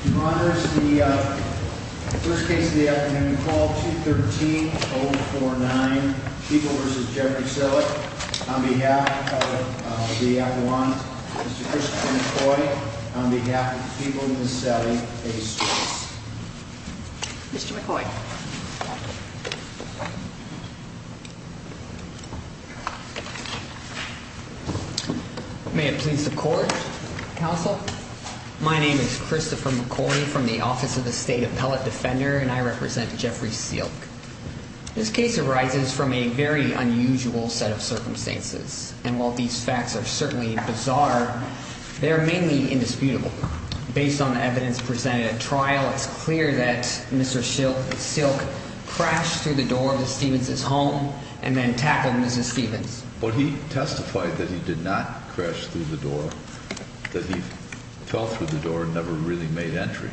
He monitors the first case of the afternoon, call 213-049, People v. Jeffrey Sielck, on behalf of the Iowans, Mr. Christopher McCoy, on behalf of the people in this setting, a source. Mr. McCoy. May it please the court, counsel. My name is Christopher McCoy from the Office of the State Appellate Defender, and I represent Jeffrey Sielck. This case arises from a very unusual set of circumstances, and while these facts are certainly bizarre, they are mainly indisputable. Based on the evidence presented at trial, it's clear that Mr. Sielck crashed through the door of Mrs. Stevens' home and then tackled Mrs. Stevens. But he testified that he did not crash through the door, that he fell through the door and never really made entry.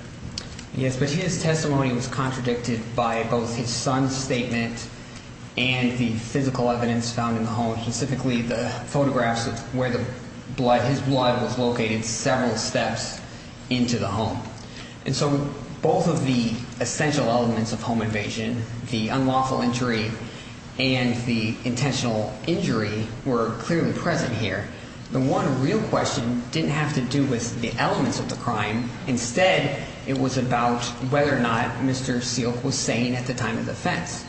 Yes, but his testimony was contradicted by both his son's statement and the physical evidence found in the home, specifically the photographs of where his blood was located several steps into the home. And so both of the essential elements of home invasion, the unlawful entry and the intentional injury, were clearly present here. The one real question didn't have to do with the elements of the crime. Instead, it was about whether or not Mr. Sielck was sane at the time of the offense.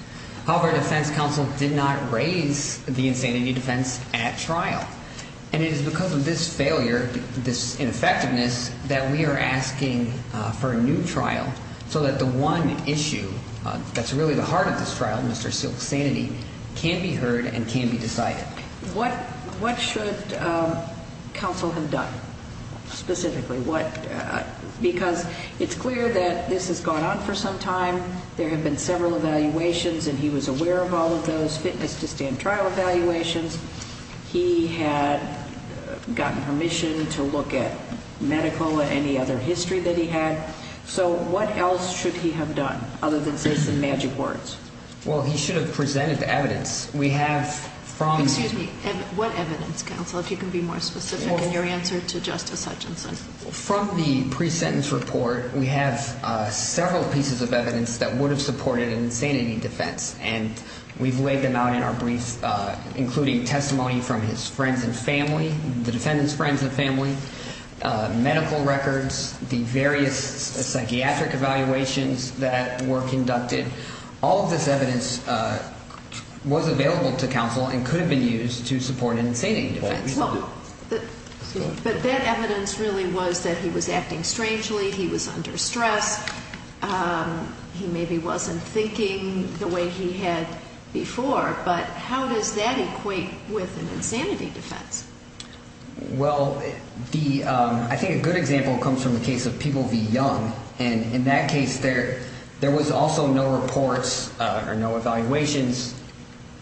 However, the defense counsel did not raise the insanity defense at trial. And it is because of this failure, this ineffectiveness, that we are asking for a new trial so that the one issue that's really the heart of this trial, Mr. Sielck's sanity, can be heard and can be decided. What should counsel have done, specifically? Because it's clear that this has gone on for some time. There have been several evaluations, and he was aware of all of those fitness-to-stand trial evaluations. He had gotten permission to look at Medi-Cola, any other history that he had. So what else should he have done, other than say some magic words? Well, he should have presented the evidence. Excuse me. What evidence, counsel, if you can be more specific in your answer to Justice Hutchinson? From the pre-sentence report, we have several pieces of evidence that would have supported an insanity defense. And we've laid them out in our brief, including testimony from his friends and family, the defendant's friends and family, medical records, the various psychiatric evaluations that were conducted. All of this evidence was available to counsel and could have been used to support an insanity defense. But that evidence really was that he was acting strangely, he was under stress, he maybe wasn't thinking the way he had before. But how does that equate with an insanity defense? Well, I think a good example comes from the case of People v. Young. And in that case, there was also no reports or no evaluations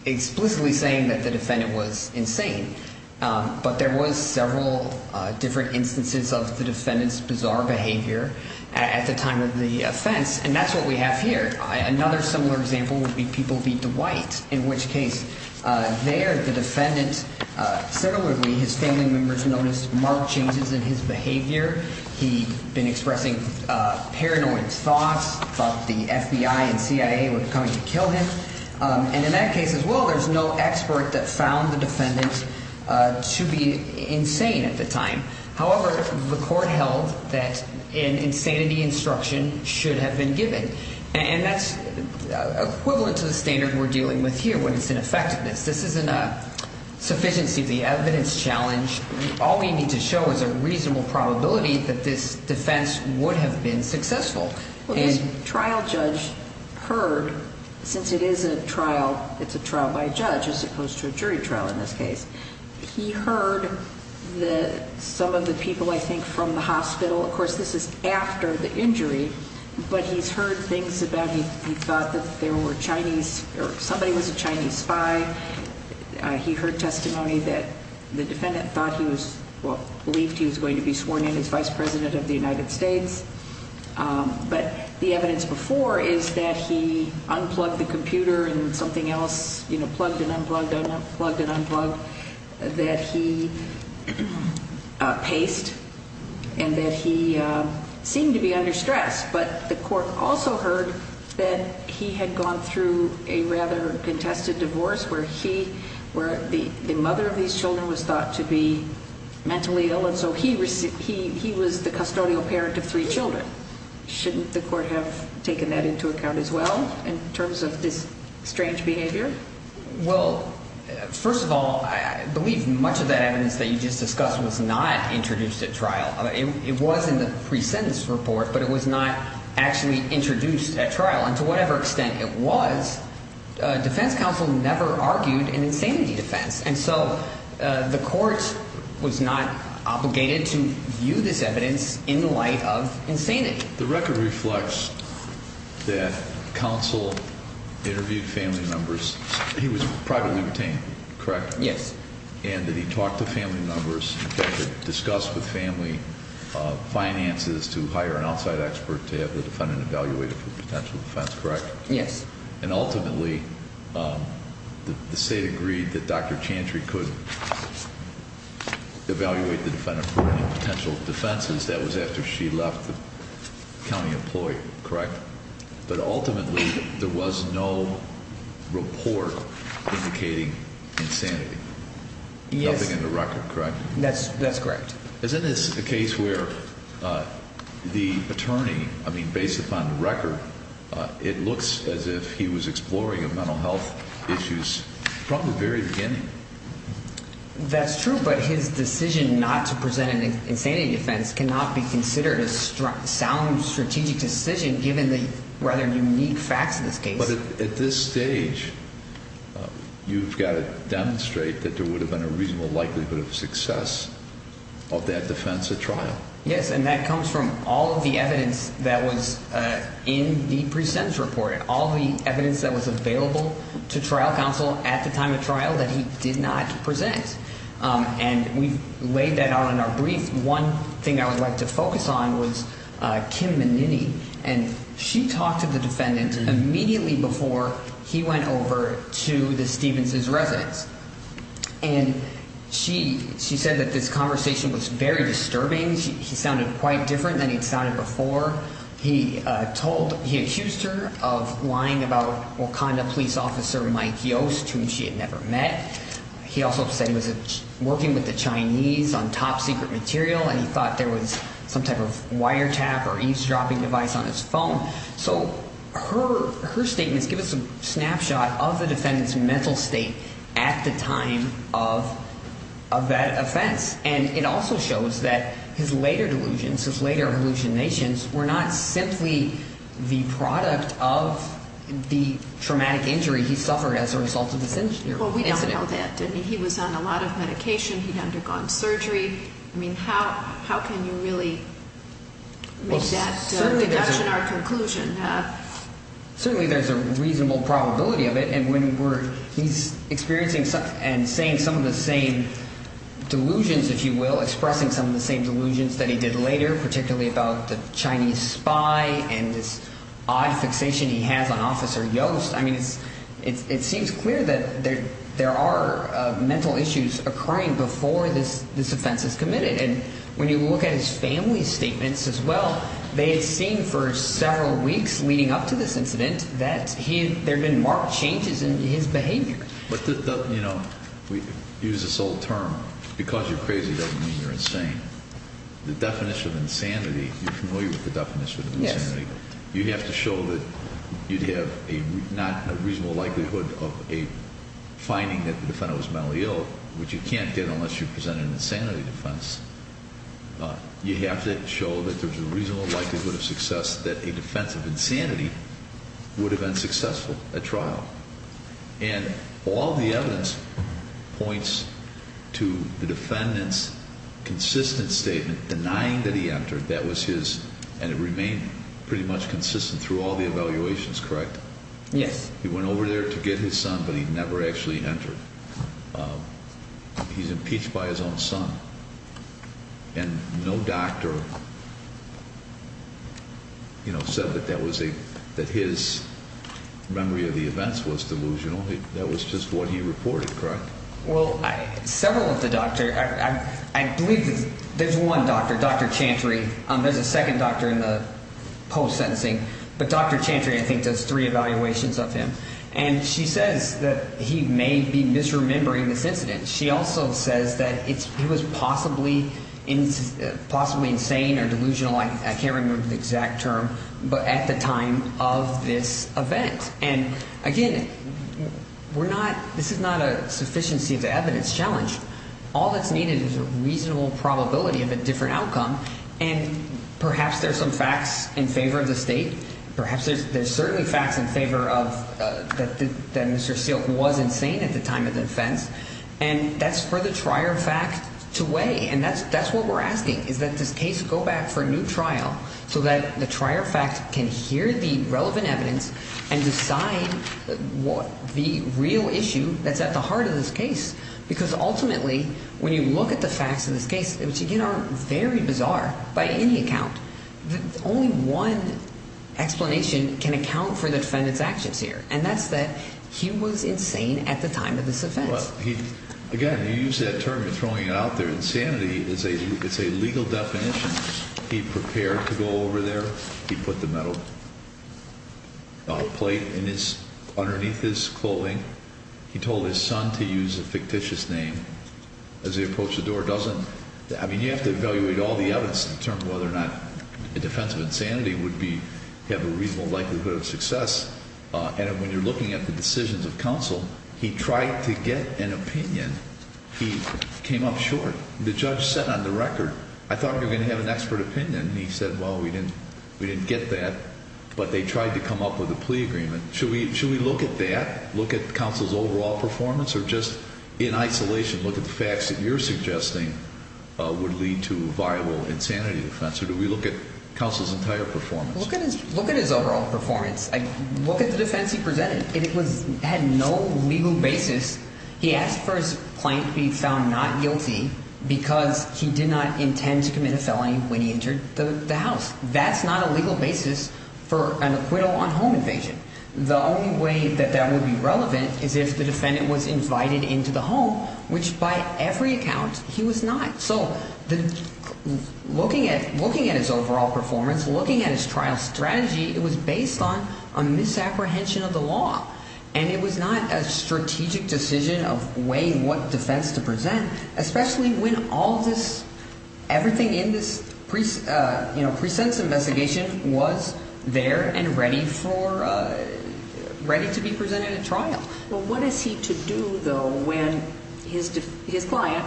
explicitly saying that the defendant was insane. But there was several different instances of the defendant's bizarre behavior at the time of the offense, and that's what we have here. Another similar example would be People v. Dwight, in which case there the defendant similarly, his family members noticed marked changes in his behavior. He'd been expressing paranoid thoughts, thought the FBI and CIA were coming to kill him. And in that case as well, there's no expert that found the defendant to be insane at the time. However, the court held that an insanity instruction should have been given. And that's equivalent to the standard we're dealing with here when it's in effectiveness. This isn't a sufficiency of the evidence challenge. All we need to show is a reasonable probability that this defense would have been successful. Well, this trial judge heard, since it is a trial, it's a trial by a judge as opposed to a jury trial in this case. He heard some of the people, I think, from the hospital. Of course, this is after the injury. But he's heard things about he thought that there were Chinese or somebody was a Chinese spy. He heard testimony that the defendant thought he was, well, believed he was going to be sworn in as Vice President of the United States. But the evidence before is that he unplugged the computer and something else, you know, plugged and unplugged, unplugged and unplugged. That he paced and that he seemed to be under stress. But the court also heard that he had gone through a rather contested divorce where he, where the mother of these children was thought to be mentally ill. And so he was the custodial parent of three children. Shouldn't the court have taken that into account as well in terms of this strange behavior? Well, first of all, I believe much of that evidence that you just discussed was not introduced at trial. It was in the pre-sentence report, but it was not actually introduced at trial. And to whatever extent it was, defense counsel never argued an insanity defense. And so the court was not obligated to view this evidence in the light of insanity. The record reflects that counsel interviewed family members. He was privately obtained, correct? Yes. And that he talked to family members, discussed with family finances to hire an outside expert to have the defendant evaluated for potential defense, correct? Yes. And ultimately, the state agreed that Dr. Chantry could evaluate the defendant for any potential defenses. That was after she left the county employee, correct? But ultimately, there was no report indicating insanity. Yes. Nothing in the record, correct? That's correct. Isn't this a case where the attorney, I mean, based upon the record, it looks as if he was exploring a mental health issues from the very beginning. That's true, but his decision not to present an insanity defense cannot be considered a sound strategic decision given the rather unique facts of this case. But at this stage, you've got to demonstrate that there would have been a reasonable likelihood of success of that defense at trial. Yes, and that comes from all of the evidence that was in the pre-sentence report and all the evidence that was available to trial counsel at the time of trial that he did not present. And we've laid that out in our brief. One thing I would like to focus on was Kim Menini, and she talked to the defendant immediately before he went over to the Stevens' residence. And she said that this conversation was very disturbing. He sounded quite different than he'd sounded before. He accused her of lying about Wakanda police officer Mike Yost, whom she had never met. He also said he was working with the Chinese on top-secret material, and he thought there was some type of wiretap or eavesdropping device on his phone. So her statements give us a snapshot of the defendant's mental state at the time of that offense. And it also shows that his later delusions, his later hallucinations were not simply the product of the traumatic injury he suffered as a result of this incident. Well, we don't know that, do we? He was on a lot of medication. He'd undergone surgery. I mean, how can you really make that deduction or conclusion? Certainly there's a reasonable probability of it. And when he's experiencing and saying some of the same delusions, if you will, expressing some of the same delusions that he did later, particularly about the Chinese spy and this odd fixation he has on Officer Yost, I mean, it seems clear that there are mental issues occurring before this offense is committed. And when you look at his family's statements as well, they had seen for several weeks leading up to this incident that there had been marked changes in his behavior. But, you know, we use this old term, because you're crazy doesn't mean you're insane. The definition of insanity, you're familiar with the definition of insanity. You have to show that you have a reasonable likelihood of a finding that the defendant was mentally ill, which you can't get unless you present an insanity defense. You have to show that there's a reasonable likelihood of success that a defense of insanity would have been successful at trial. And all the evidence points to the defendant's consistent statement denying that he entered. That was his, and it remained pretty much consistent through all the evaluations, correct? Yes. He went over there to get his son, but he never actually entered. He's impeached by his own son, and no doctor, you know, said that his memory of the events was delusional. That was just what he reported, correct? Well, several of the doctors, I believe there's one doctor, Dr. Chantry. There's a second doctor in the post-sentencing, but Dr. Chantry, I think, does three evaluations of him. And she says that he may be misremembering this incident. She also says that he was possibly insane or delusional, I can't remember the exact term, but at the time of this event. And, again, we're not – this is not a sufficiency of evidence challenge. All that's needed is a reasonable probability of a different outcome, and perhaps there's some facts in favor of the state. Perhaps there's certainly facts in favor of that Mr. Silk was insane at the time of the offense. And that's for the trier of fact to weigh, and that's what we're asking, is that this case go back for a new trial so that the trier of fact can hear the relevant evidence and decide what the real issue that's at the heart of this case. Because, ultimately, when you look at the facts of this case, which, again, are very bizarre by any account, only one explanation can account for the defendant's actions here. And that's that he was insane at the time of this offense. Well, he – again, you use that term of throwing it out there. Insanity is a legal definition. He prepared to go over there. He put the metal plate in his – underneath his clothing. He told his son to use a fictitious name as he approached the door. It doesn't – I mean, you have to evaluate all the evidence to determine whether or not a defense of insanity would be – have a reasonable likelihood of success. And when you're looking at the decisions of counsel, he tried to get an opinion. He came up short. The judge said on the record, I thought you were going to have an expert opinion. And he said, well, we didn't get that, but they tried to come up with a plea agreement. Should we look at that? Look at counsel's overall performance or just in isolation look at the facts that you're suggesting would lead to viable insanity defense? Or do we look at counsel's entire performance? Look at his overall performance. Look at the defense he presented. It had no legal basis. He asked for his client to be found not guilty because he did not intend to commit a felony when he entered the house. That's not a legal basis for an acquittal on home invasion. The only way that that would be relevant is if the defendant was invited into the home, which by every account he was not. So looking at his overall performance, looking at his trial strategy, it was based on a misapprehension of the law. And it was not a strategic decision of way what defense to present, especially when all this everything in this priest, you know, presents investigation was there and ready for ready to be presented at trial. Well, what is he to do, though, when his his client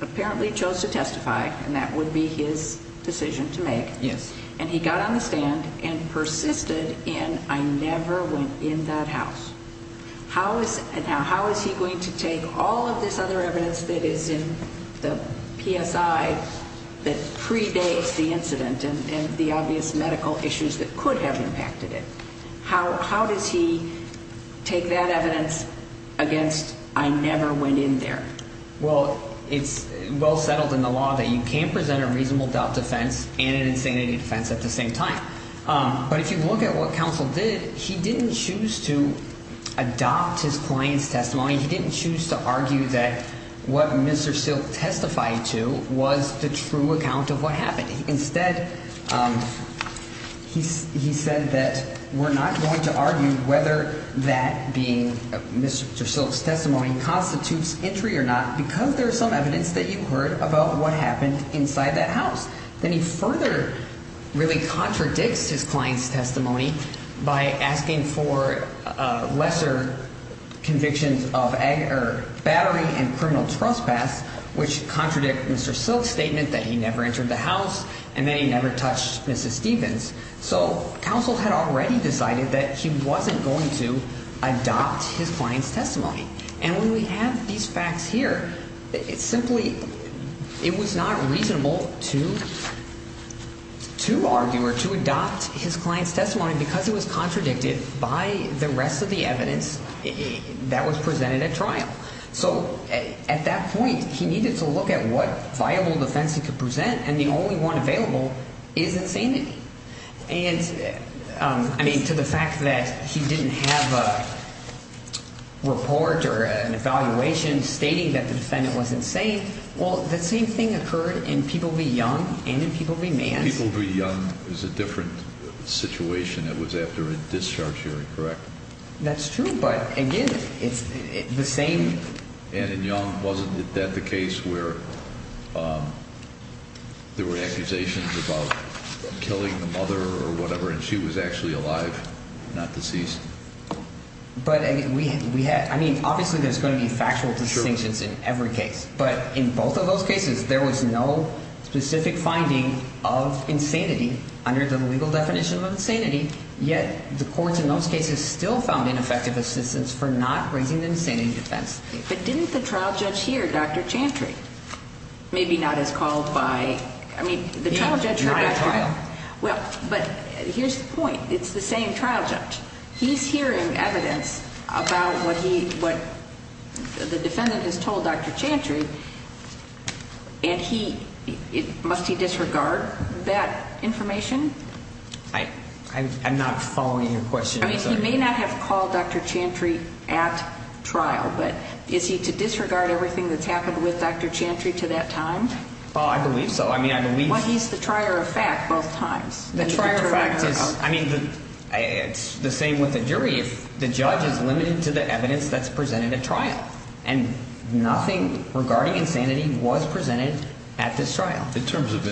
apparently chose to testify and that would be his decision to make? Yes. And he got on the stand and persisted in I never went in that house. How is and how is he going to take all of this other evidence that is in the PSI that predates the incident and the obvious medical issues that could have impacted it? How how does he take that evidence against? I never went in there. Well, it's well settled in the law that you can't present a reasonable doubt defense and an insanity defense at the same time. But if you look at what counsel did, he didn't choose to adopt his client's testimony. He didn't choose to argue that what Mr. Silk testified to was the true account of what happened. Instead, he said that we're not going to argue whether that being Mr. Silk's testimony constitutes entry or not, because there is some evidence that you heard about what happened inside that house. Then he further really contradicts his client's testimony by asking for lesser convictions of battery and criminal trespass, which contradict Mr. Silk's statement that he never entered the house and that he never touched Mrs. Stevens. So counsel had already decided that he wasn't going to adopt his client's testimony. And when we have these facts here, it's simply it was not reasonable to to argue or to adopt his client's testimony because it was contradicted by the rest of the evidence that was presented at trial. So at that point, he needed to look at what viable defense he could present. And the only one available is insanity. And I mean, to the fact that he didn't have a report or an evaluation stating that the defendant was insane. Well, the same thing occurred in People v. Young and in People v. Mann. People v. Young is a different situation. It was after a discharge hearing, correct? That's true. But again, it's the same. And in Young, wasn't that the case where there were accusations about killing the mother or whatever and she was actually alive, not deceased? But we had I mean, obviously, there's going to be factual distinctions in every case. But in both of those cases, there was no specific finding of insanity under the legal definition of insanity. Yet the courts in those cases still found ineffective assistance for not raising the insanity defense. But didn't the trial judge hear Dr. Chantry? Maybe not as called by. I mean, the trial judge. Well, but here's the point. It's the same trial judge. He's hearing evidence about what the defendant has told Dr. Chantry. And must he disregard that information? I'm not following your question. I mean, he may not have called Dr. Chantry at trial, but is he to disregard everything that's happened with Dr. Chantry to that time? Oh, I believe so. I mean, I believe. Well, he's the trier of fact both times. The trier of fact is, I mean, it's the same with the jury. The judge is limited to the evidence that's presented at trial. And nothing regarding insanity was presented at this trial. In terms of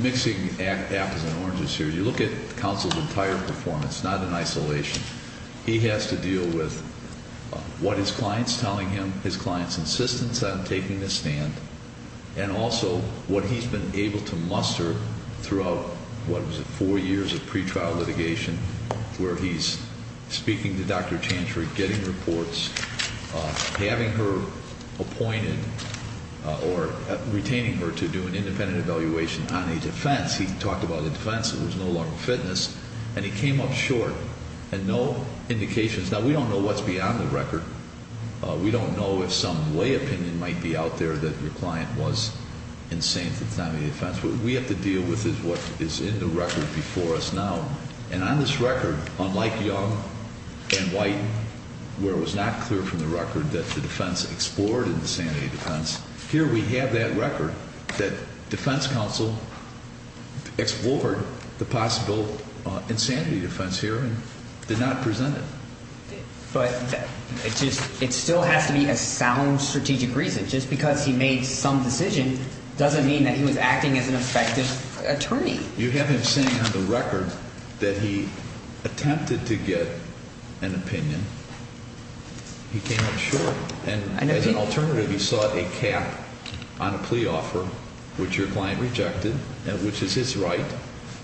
mixing apples and oranges here, you look at counsel's entire performance, not in isolation. He has to deal with what his client's telling him, his client's insistence on taking the stand, and also what he's been able to muster throughout, what was it, four years of pretrial litigation, where he's speaking to Dr. Chantry, getting reports, having her appointed or retaining her to do an independent evaluation on a defense. He talked about a defense that was no longer fitness, and he came up short and no indications. Now, we don't know what's beyond the record. We don't know if some lay opinion might be out there that your client was insanity defense. What we have to deal with is what is in the record before us now. And on this record, unlike Young and White, where it was not clear from the record that the defense explored insanity defense, here we have that record that defense counsel explored the possible insanity defense here and did not present it. But it still has to be a sound strategic reason. Just because he made some decision doesn't mean that he was acting as an effective attorney. You have him saying on the record that he attempted to get an opinion. He came up short. And as an alternative, he sought a cap on a plea offer, which your client rejected, which is his right,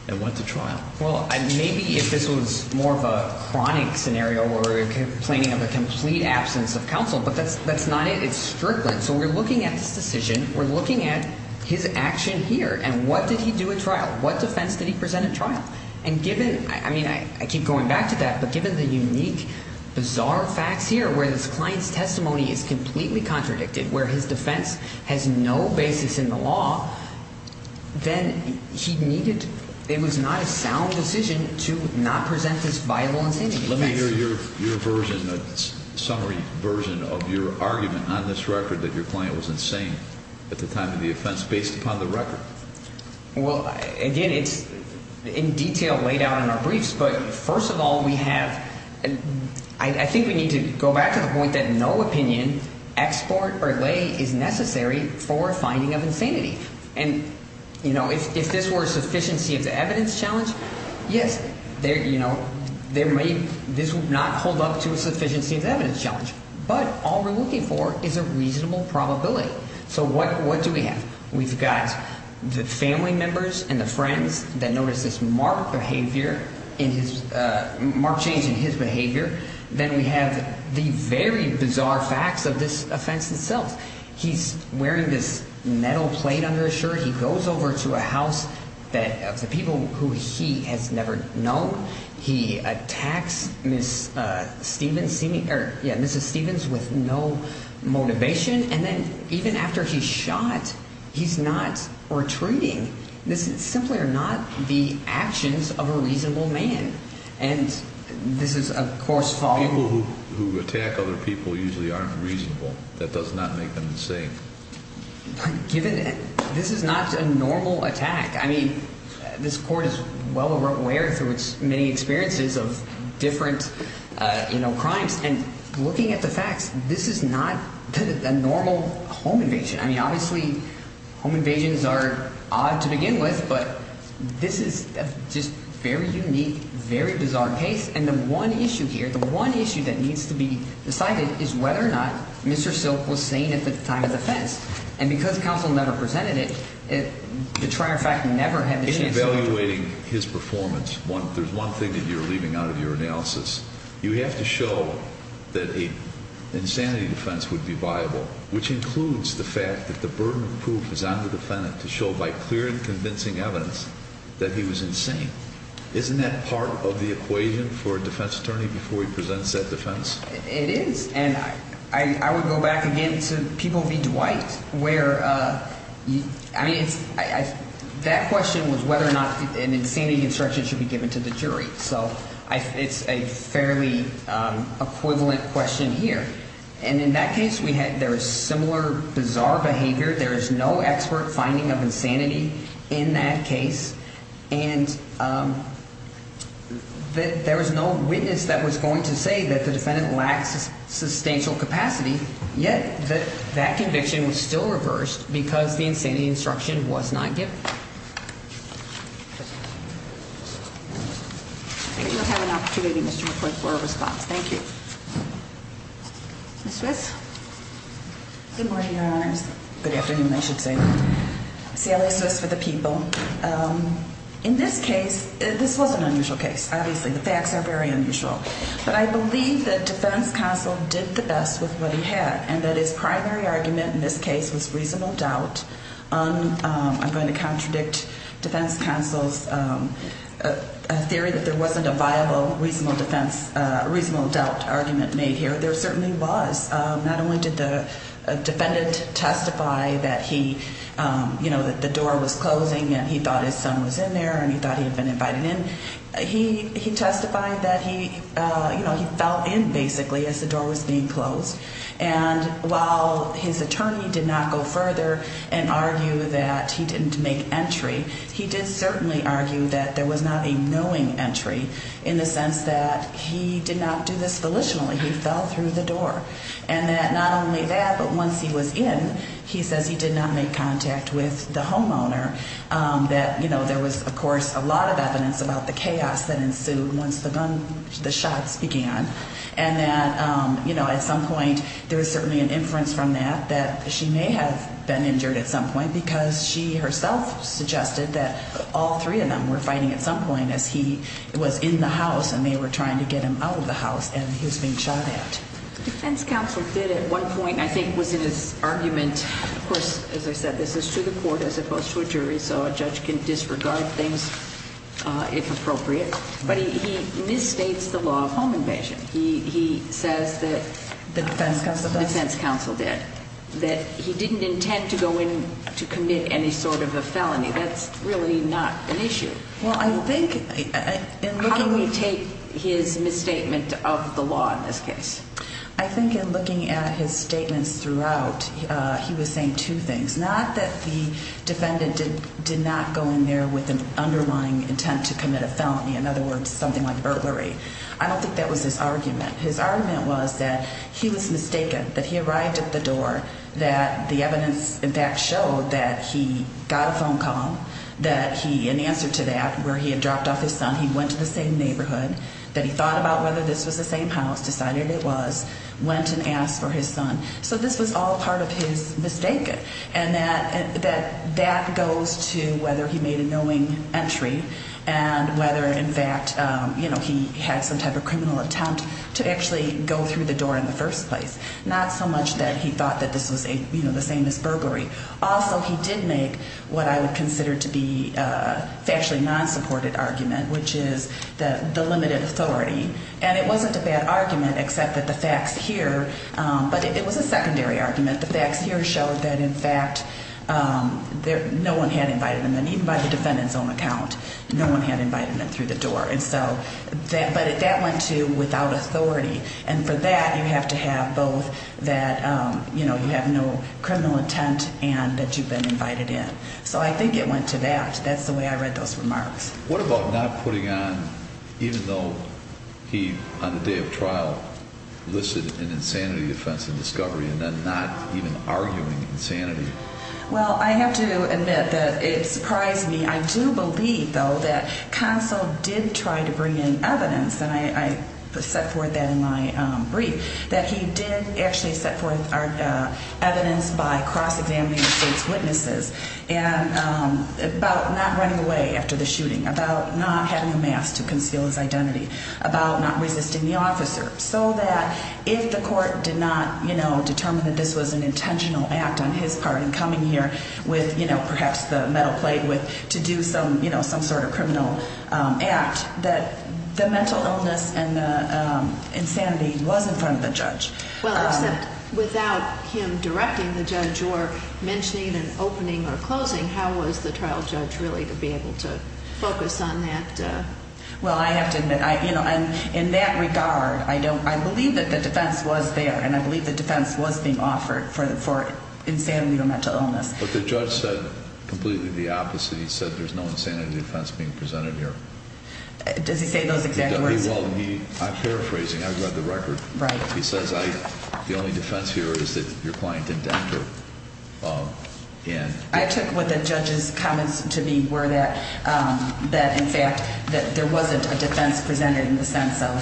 and went to trial. Well, maybe if this was more of a chronic scenario where we're complaining of a complete absence of counsel, but that's not it. It's strictly. So we're looking at this decision. We're looking at his action here. And what did he do at trial? What defense did he present at trial? And given, I mean, I keep going back to that, but given the unique, bizarre facts here where this client's testimony is completely contradicted, where his defense has no basis in the law, then he needed, it was not a sound decision to not present this viable insanity defense. Let me hear your version, a summary version of your argument on this record that your client was insane at the time of the offense based upon the record. Well, again, it's in detail laid out in our briefs. But first of all, we have, I think we need to go back to the point that no opinion, export, or lay is necessary for a finding of insanity. And if this were a sufficiency of the evidence challenge, yes, this would not hold up to a sufficiency of the evidence challenge. But all we're looking for is a reasonable probability. So what do we have? We've got the family members and the friends that notice this marked behavior, marked change in his behavior. Then we have the very bizarre facts of this offense itself. He's wearing this metal plate under his shirt. He goes over to a house of the people who he has never known. He attacks Mrs. Stevens with no motivation. And then even after he's shot, he's not retreating. This is simply are not the actions of a reasonable man. And this is, of course, following. People who attack other people usually aren't reasonable. That does not make them insane. Given this is not a normal attack. I mean, this court is well aware through its many experiences of different crimes. And looking at the facts, this is not a normal home invasion. I mean, obviously, home invasions are odd to begin with. But this is just very unique, very bizarre case. And the one issue here, the one issue that needs to be decided is whether or not Mr. Silk was sane at the time of the offense. And because counsel never presented it, the triumvirate never had the chance. In evaluating his performance, there's one thing that you're leaving out of your analysis. You have to show that an insanity defense would be viable, which includes the fact that the burden of proof is on the defendant to show by clear and convincing evidence that he was insane. Isn't that part of the equation for a defense attorney before he presents that defense? It is, and I would go back again to People v. Dwight where, I mean, that question was whether or not an insanity instruction should be given to the jury. So it's a fairly equivalent question here. And in that case, there is similar bizarre behavior. There is no expert finding of insanity in that case. And there was no witness that was going to say that the defendant lacks substantial capacity, yet that conviction was still reversed because the insanity instruction was not given. I think we'll have an opportunity, Mr. McCoy, for a response. Thank you. Ms. Swiss? Good morning, Your Honors. Good afternoon, I should say. Sally Swiss for the People. In this case, this was an unusual case, obviously. The facts are very unusual. But I believe that defense counsel did the best with what he had and that his primary argument in this case was reasonable doubt. I'm going to contradict defense counsel's theory that there wasn't a viable reasonable doubt argument made here. There certainly was. Not only did the defendant testify that he, you know, that the door was closing and he thought his son was in there and he thought he had been invited in. He testified that he, you know, he fell in, basically, as the door was being closed. And while his attorney did not go further and argue that he didn't make entry, he did certainly argue that there was not a knowing entry in the sense that he did not do this volitionally. He fell through the door. And that not only that, but once he was in, he says he did not make contact with the homeowner. That, you know, there was, of course, a lot of evidence about the chaos that ensued once the gun, the shots began. And that, you know, at some point there was certainly an inference from that that she may have been injured at some point because she herself suggested that all three of them were fighting at some point as he was in the house and they were trying to get him out of the house. And he was being shot at. The defense counsel did at one point, I think, was in his argument. Of course, as I said, this is to the court as opposed to a jury, so a judge can disregard things if appropriate. But he misstates the law of home invasion. He says that the defense counsel did, that he didn't intend to go in to commit any sort of a felony. That's really not an issue. Well, I think we take his misstatement of the law in this case. I think in looking at his statements throughout, he was saying two things, not that the defendant did not go in there with an underlying intent to commit a felony. In other words, something like burglary. I don't think that was his argument. His argument was that he was mistaken, that he arrived at the door, that the evidence, in fact, showed that he got a phone call, that he, in answer to that, where he had dropped off his son. He went to the same neighborhood, that he thought about whether this was the same house, decided it was, went and asked for his son. So this was all part of his mistake, and that goes to whether he made a knowing entry and whether, in fact, he had some type of criminal attempt to actually go through the door in the first place. Not so much that he thought that this was the same as burglary. Also, he did make what I would consider to be a factually non-supported argument, which is the limited authority. And it wasn't a bad argument, except that the facts here, but it was a secondary argument. The facts here showed that, in fact, no one had invited him in, even by the defendant's own account. No one had invited him in through the door. And so, but that went to without authority. And for that, you have to have both that, you know, you have no criminal intent and that you've been invited in. So I think it went to that. That's the way I read those remarks. What about not putting on, even though he, on the day of trial, listed an insanity offense in discovery and then not even arguing insanity? Well, I have to admit that it surprised me. I do believe, though, that counsel did try to bring in evidence, and I set forth that in my brief, that he did actually set forth evidence by cross-examining the state's witnesses about not running away after the shooting, about not having a mask to conceal his identity, about not resisting the officer, so that if the court did not, you know, determine that this was an intentional act on his part in coming here with, you know, perhaps the metal plate to do some, you know, some sort of criminal act, that the mental illness and the insanity was in front of the judge. Well, except without him directing the judge or mentioning an opening or closing, how was the trial judge really to be able to focus on that? Well, I have to admit, you know, in that regard, I believe that the defense was there, and I believe the defense was being offered for insanity or mental illness. But the judge said completely the opposite. He said there's no insanity defense being presented here. Does he say those exact words? He does. He will. I'm paraphrasing. I read the record. Right. He says the only defense here is that your client indented. I took what the judge's comments to be were that, in fact, that there wasn't a defense presented in the sense of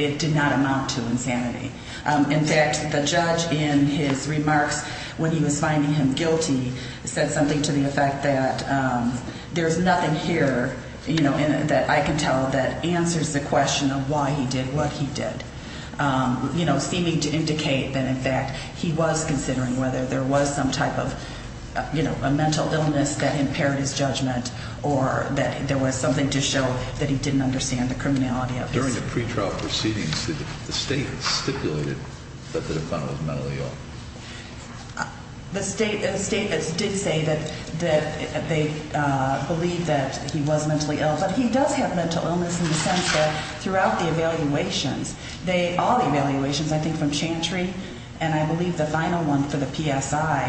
it did not amount to insanity. In fact, the judge, in his remarks when he was finding him guilty, said something to the effect that there's nothing here, you know, that I can tell that answers the question of why he did what he did, you know, seeming to indicate that, in fact, he was considering whether there was some type of, you know, a mental illness that impaired his judgment or that there was something to show that he didn't understand the criminality of it. During the pretrial proceedings, the state stipulated that the defendant was mentally ill. The state did say that they believed that he was mentally ill. But he does have mental illness in the sense that throughout the evaluations, all the evaluations, I think, from Chantry and I believe the final one for the PSI,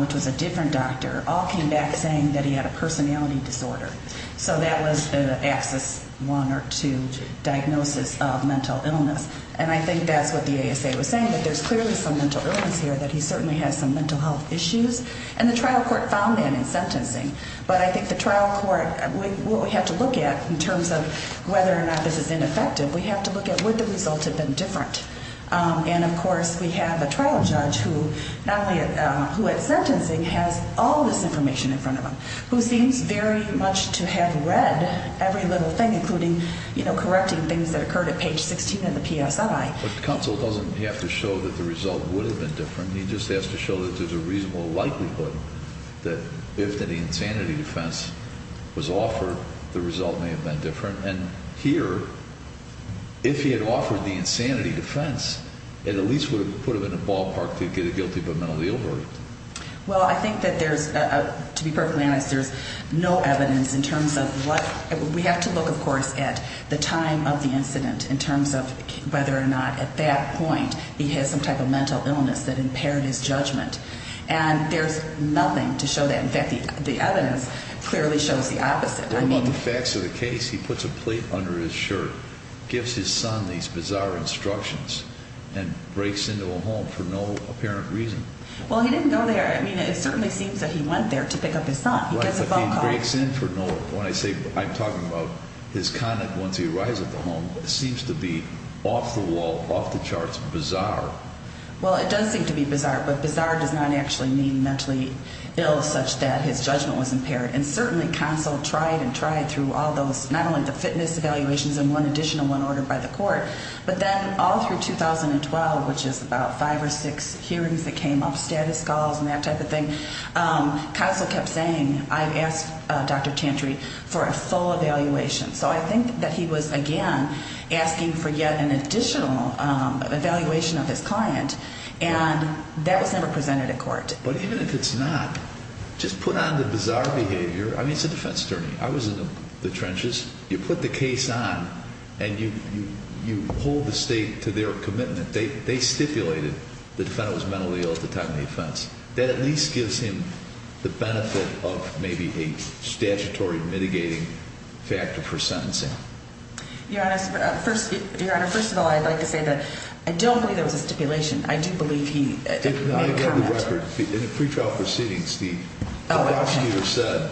which was a different doctor, all came back saying that he had a personality disorder. So that was axis one or two, diagnosis of mental illness. And I think that's what the ASA was saying, that there's clearly some mental illness here, that he certainly has some mental health issues. And the trial court found that in sentencing. But I think the trial court, what we have to look at in terms of whether or not this is ineffective, we have to look at would the result have been different. And, of course, we have a trial judge who not only who at sentencing has all this information in front of him, who seems very much to have read every little thing, including correcting things that occurred at page 16 in the PSI. But counsel doesn't have to show that the result would have been different. He just has to show that there's a reasonable likelihood that if the insanity defense was offered, the result may have been different. And here, if he had offered the insanity defense, it at least would have put him in a ballpark to get a guilty but mentally ill verdict. Well, I think that there's, to be perfectly honest, there's no evidence in terms of what, we have to look, of course, at the time of the incident in terms of whether or not at that point he had some type of mental illness that impaired his judgment. And there's nothing to show that. In fact, the evidence clearly shows the opposite. Among the facts of the case, he puts a plate under his shirt, gives his son these bizarre instructions, and breaks into a home for no apparent reason. Well, he didn't go there. I mean, it certainly seems that he went there to pick up his son. He gets a phone call. He breaks in for no, when I say, I'm talking about his conduct once he arrives at the home. It seems to be off the wall, off the charts, bizarre. Well, it does seem to be bizarre, but bizarre does not actually mean mentally ill such that his judgment was impaired. And certainly, counsel tried and tried through all those, not only the fitness evaluations and one additional one ordered by the court, but then all through 2012, which is about five or six hearings that came up, status calls and that type of thing. Counsel kept saying, I've asked Dr. Tantry for a full evaluation. So I think that he was, again, asking for yet an additional evaluation of his client, and that was never presented at court. But even if it's not, just put on the bizarre behavior. I mean, it's a defense attorney. I was in the trenches. You put the case on and you hold the state to their commitment. They stipulated the defendant was mentally ill at the time of the offense. That at least gives him the benefit of maybe a statutory mitigating factor for sentencing. Your Honor, first of all, I'd like to say that I don't believe there was a stipulation. I do believe he made a comment. In the pretrial proceedings, the prosecutor said,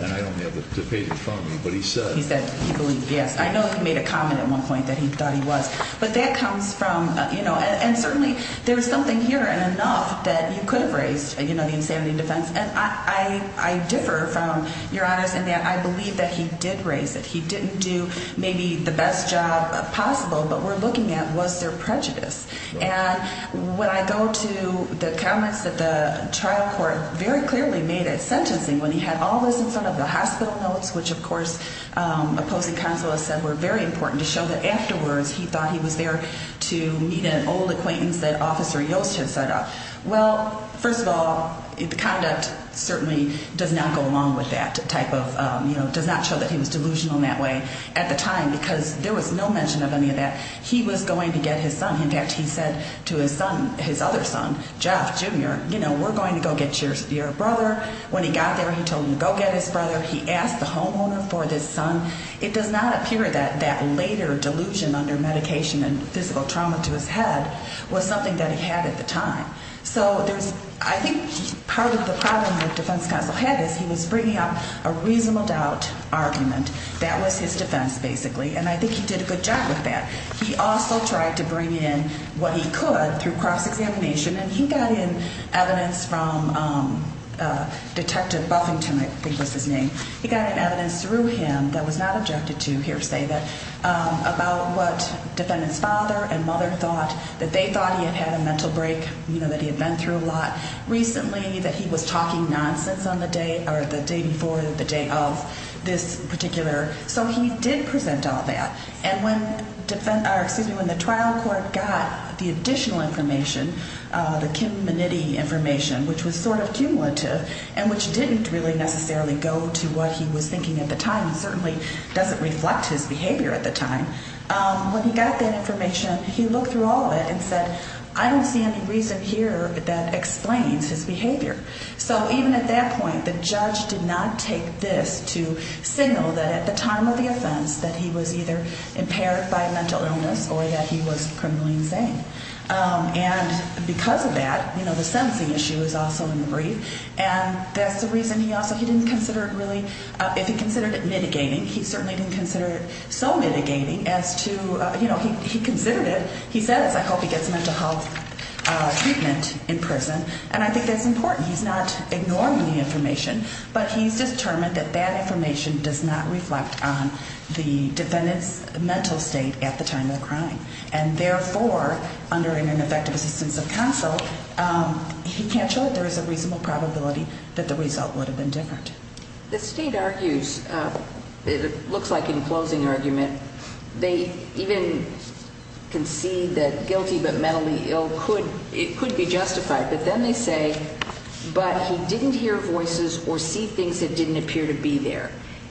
and I don't have the page in front of me, but he said. He said he believed, yes. I know he made a comment at one point that he thought he was. But that comes from, you know, and certainly there's something here in enough that you could have raised, you know, the insanity defense. And I differ from Your Honors in that I believe that he did raise it. He didn't do maybe the best job possible, but we're looking at was there prejudice. And when I go to the comments that the trial court very clearly made at sentencing when he had all this in front of the hospital notes, which, of course, opposing consulates said were very important, to show that afterwards he thought he was there to meet an old acquaintance that Officer Yost had set up. Well, first of all, the conduct certainly does not go along with that type of, you know, does not show that he was delusional in that way at the time because there was no mention of any of that. He was going to get his son. In fact, he said to his son, his other son, Jeff, Jr., you know, we're going to go get your brother. When he got there, he told him to go get his brother. He asked the homeowner for this son. It does not appear that that later delusion under medication and physical trauma to his head was something that he had at the time. So I think part of the problem with defense counsel had is he was bringing up a reasonable doubt argument. That was his defense, basically, and I think he did a good job with that. He also tried to bring in what he could through cross-examination, and he got in evidence from Detective Buffington, I think was his name. He got in evidence through him that was not objected to, hear say that, about what defendant's father and mother thought, that they thought he had had a mental break, you know, that he had been through a lot recently, that he was talking nonsense on the day or the day before the day of this particular. So he did present all that. And when the trial court got the additional information, the kin-minity information, which was sort of cumulative and which didn't really necessarily go to what he was thinking at the time and certainly doesn't reflect his behavior at the time. When he got that information, he looked through all of it and said, I don't see any reason here that explains his behavior. So even at that point, the judge did not take this to signal that at the time of the offense that he was either impaired by mental illness or that he was criminally insane. And because of that, you know, the sentencing issue is also in the brief, and that's the reason he also didn't consider it really, if he considered it mitigating, he certainly didn't consider it so mitigating as to, you know, he considered it. He said, as I hope he gets mental health treatment in prison, and I think that's important. He's not ignoring the information, but he's determined that that information does not reflect on the defendant's mental state at the time of the crime. And therefore, under an effective assistance of counsel, he can't show that there is a reasonable probability that the result would have been different. The state argues, it looks like in closing argument, they even concede that guilty but mentally ill could be justified, but then they say, but he didn't hear voices or see things that didn't appear to be there.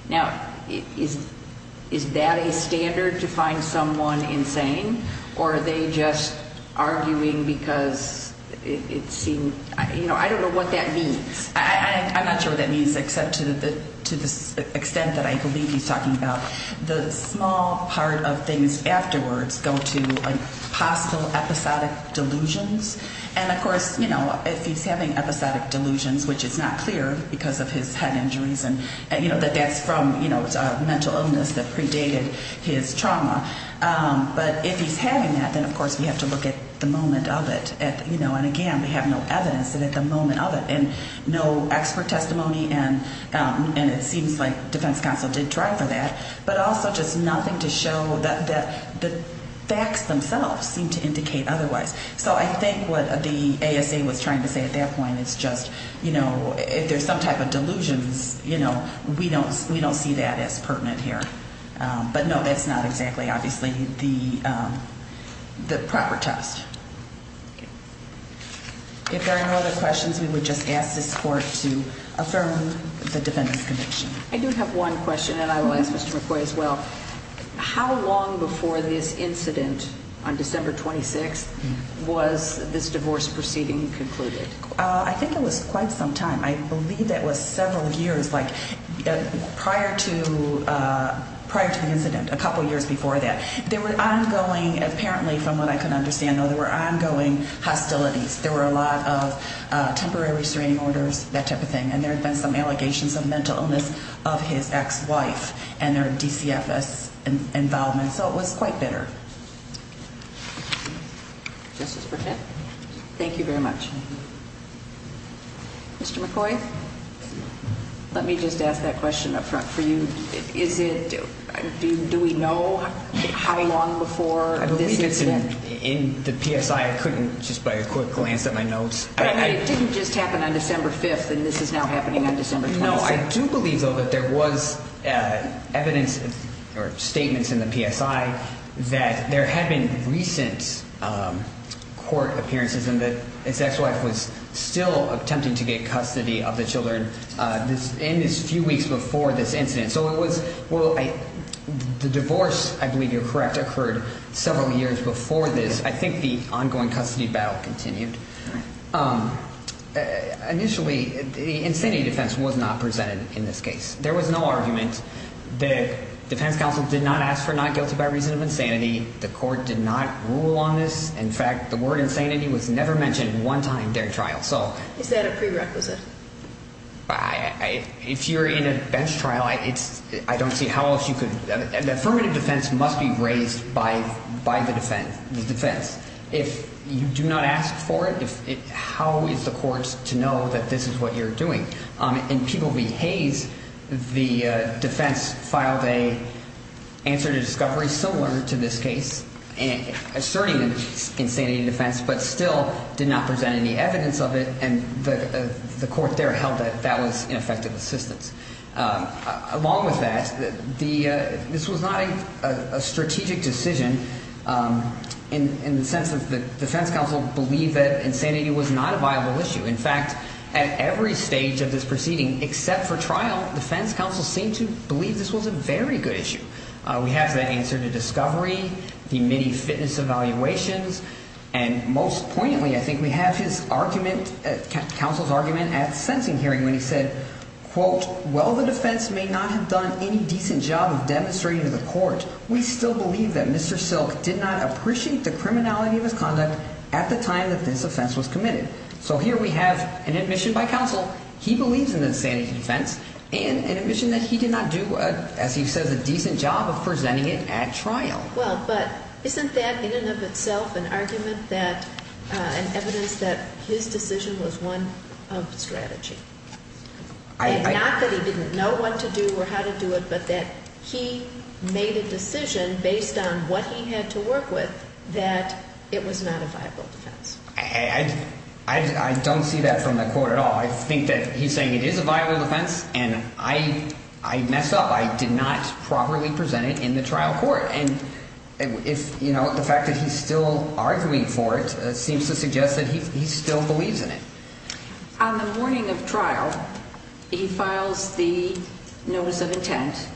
Now, is that a standard to find someone insane, or are they just arguing because it seemed, you know, I don't know what that means. I'm not sure what that means except to the extent that I believe he's talking about the small part of things afterwards go to a possible episodic delusions. And of course, you know, if he's having episodic delusions, which is not clear because of his head injuries and, you know, that that's from, you know, it's a mental illness that predated his trauma. But if he's having that, then of course we have to look at the moment of it. You know, and again, we have no evidence that at the moment of it, and no expert testimony and it seems like defense counsel did try for that, but also just nothing to show that the facts themselves seem to indicate otherwise. So I think what the ASA was trying to say at that point is just, you know, if there's some type of delusions, you know, we don't see that as pertinent here. But no, that's not exactly obviously the proper test. If there are no other questions, we would just ask this court to affirm the defendant's conviction. I do have one question, and I will ask Mr. McCoy as well. How long before this incident on December 26th was this divorce proceeding concluded? I think it was quite some time. I believe that was several years, like prior to the incident, a couple years before that. There were ongoing, apparently from what I can understand, there were ongoing hostilities. There were a lot of temporary restraining orders, that type of thing, and there had been some allegations of mental illness of his ex-wife and their DCFS involvement. So it was quite bitter. Justice Burnett? Thank you very much. Mr. McCoy? Let me just ask that question up front for you. Do we know how long before this incident? In the PSI, I couldn't just by a quick glance at my notes. It didn't just happen on December 5th, and this is now happening on December 26th. No, I do believe, though, that there was evidence or statements in the PSI that there had been recent court appearances and that his ex-wife was still attempting to get custody of the children in this few weeks before this incident. So the divorce, I believe you're correct, occurred several years before this. I think the ongoing custody battle continued. Initially, insanity defense was not presented in this case. There was no argument. The defense counsel did not ask for not guilty by reason of insanity. The court did not rule on this. In fact, the word insanity was never mentioned one time during trial. Is that a prerequisite? If you're in a bench trial, I don't see how else you could. The affirmative defense must be raised by the defense. If you do not ask for it, how is the court to know that this is what you're doing? In People v. Hayes, the defense filed an answer to discovery similar to this case, asserting insanity defense but still did not present any evidence of it, and the court there held that that was ineffective assistance. Along with that, this was not a strategic decision in the sense that the defense counsel believed that insanity was not a viable issue. In fact, at every stage of this proceeding except for trial, defense counsel seemed to believe this was a very good issue. We have that answer to discovery, the MIDI fitness evaluations, and most poignantly, I think we have his argument, counsel's argument at the sentencing hearing when he said, quote, well, the defense may not have done any decent job of demonstrating to the court. We still believe that Mr. Silk did not appreciate the criminality of his conduct at the time that this offense was committed. So here we have an admission by counsel, he believes in the insanity defense, and an admission that he did not do, as he says, a decent job of presenting it at trial. Well, but isn't that in and of itself an argument that, an evidence that his decision was one of strategy? Not that he didn't know what to do or how to do it, but that he made a decision based on what he had to work with that it was not a viable defense. I don't see that from the court at all. I think that he's saying it is a viable defense, and I messed up. I did not properly present it in the trial court. And if, you know, the fact that he's still arguing for it seems to suggest that he still believes in it. On the morning of trial, he files the notice of intent,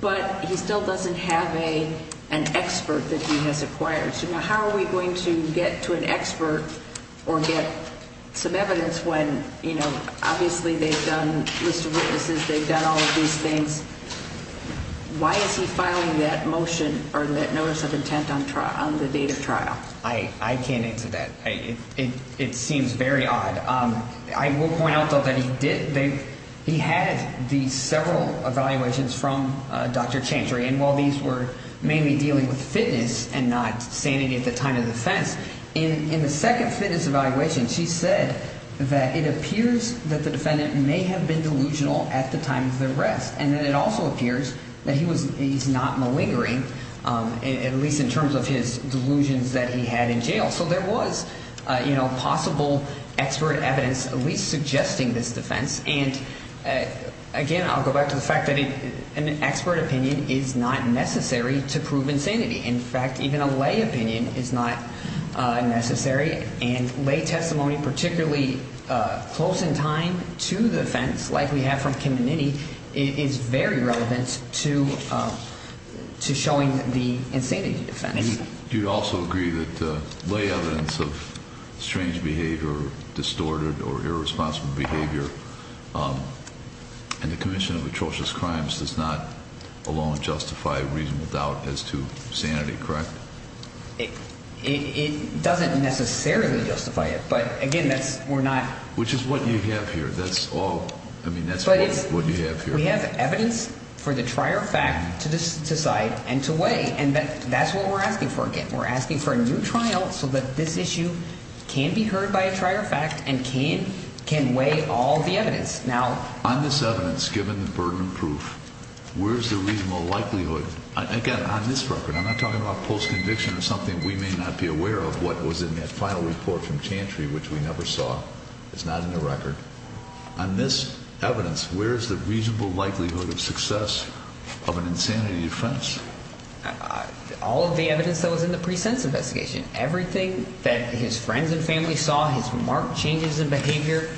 but he still doesn't have an expert that he has acquired. So now how are we going to get to an expert or get some evidence when, you know, obviously they've done a list of witnesses, they've done all of these things. Why is he filing that motion or that notice of intent on the date of trial? I can't answer that. It seems very odd. I will point out, though, that he had these several evaluations from Dr. Chantry, and while these were mainly dealing with fitness and not sanity at the time of defense, in the second fitness evaluation she said that it appears that the defendant may have been delusional at the time of the arrest, and that it also appears that he's not malingering, at least in terms of his delusions that he had in jail. So there was, you know, possible expert evidence at least suggesting this defense. And, again, I'll go back to the fact that an expert opinion is not necessary to prove insanity. In fact, even a lay opinion is not necessary, and lay testimony, particularly close in time to the offense, like we have from Kim and Nitty, is very relevant to showing the insanity defense. Do you also agree that lay evidence of strange behavior or distorted or irresponsible behavior in the commission of atrocious crimes does not alone justify reasonable doubt as to sanity, correct? It doesn't necessarily justify it, but, again, that's we're not. Which is what you have here. That's all. I mean, that's what you have here. We have evidence for the trier fact to decide and to weigh, and that's what we're asking for again. We're asking for a new trial so that this issue can be heard by a trier fact and can weigh all the evidence. Now, on this evidence, given the burden of proof, where is the reasonable likelihood? Again, on this record, I'm not talking about post-conviction or something we may not be aware of. What was in that final report from Chantry, which we never saw, is not in the record. On this evidence, where is the reasonable likelihood of success of an insanity defense? All of the evidence that was in the presense investigation, everything that his friends and family saw, his marked changes in behavior,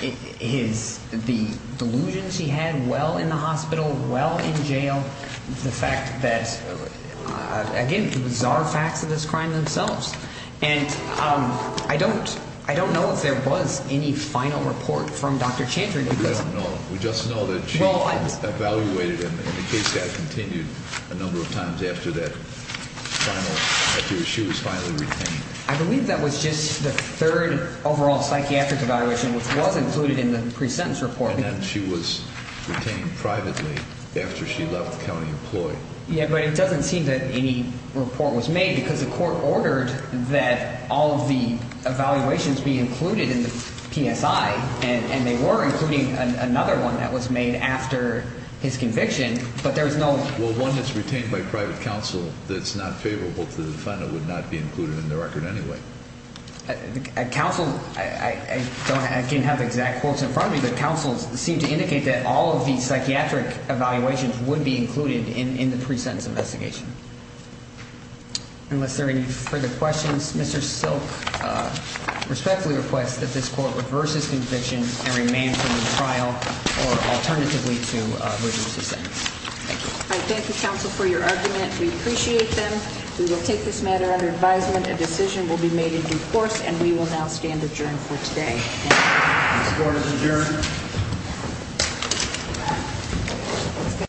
the delusions he had while in the hospital, while in jail, the fact that, again, bizarre facts of this crime themselves. And I don't know if there was any final report from Dr. Chantry. We don't know. We just know that she evaluated, and the case has continued a number of times after she was finally retained. I believe that was just the third overall psychiatric evaluation, which was included in the presentence report. And then she was retained privately after she left the county employed. Yeah, but it doesn't seem that any report was made because the court ordered that all of the evaluations be included in the PSI, and they were, including another one that was made after his conviction, but there was no one that's retained by private counsel that's not favorable to the defendant would not be included in the record anyway. Counsel, I don't have exact quotes in front of me, but counsel seemed to indicate that all of these psychiatric evaluations would be included in the presentence investigation. Unless there are any further questions, Mr. Silk respectfully requests that this court reverse his conviction and remain for the trial, or alternatively to reduce the sentence. Thank you, counsel, for your argument. We appreciate them. We will take this matter under advisement. A decision will be made in due course, and we will now stand adjourned for today. This court is adjourned.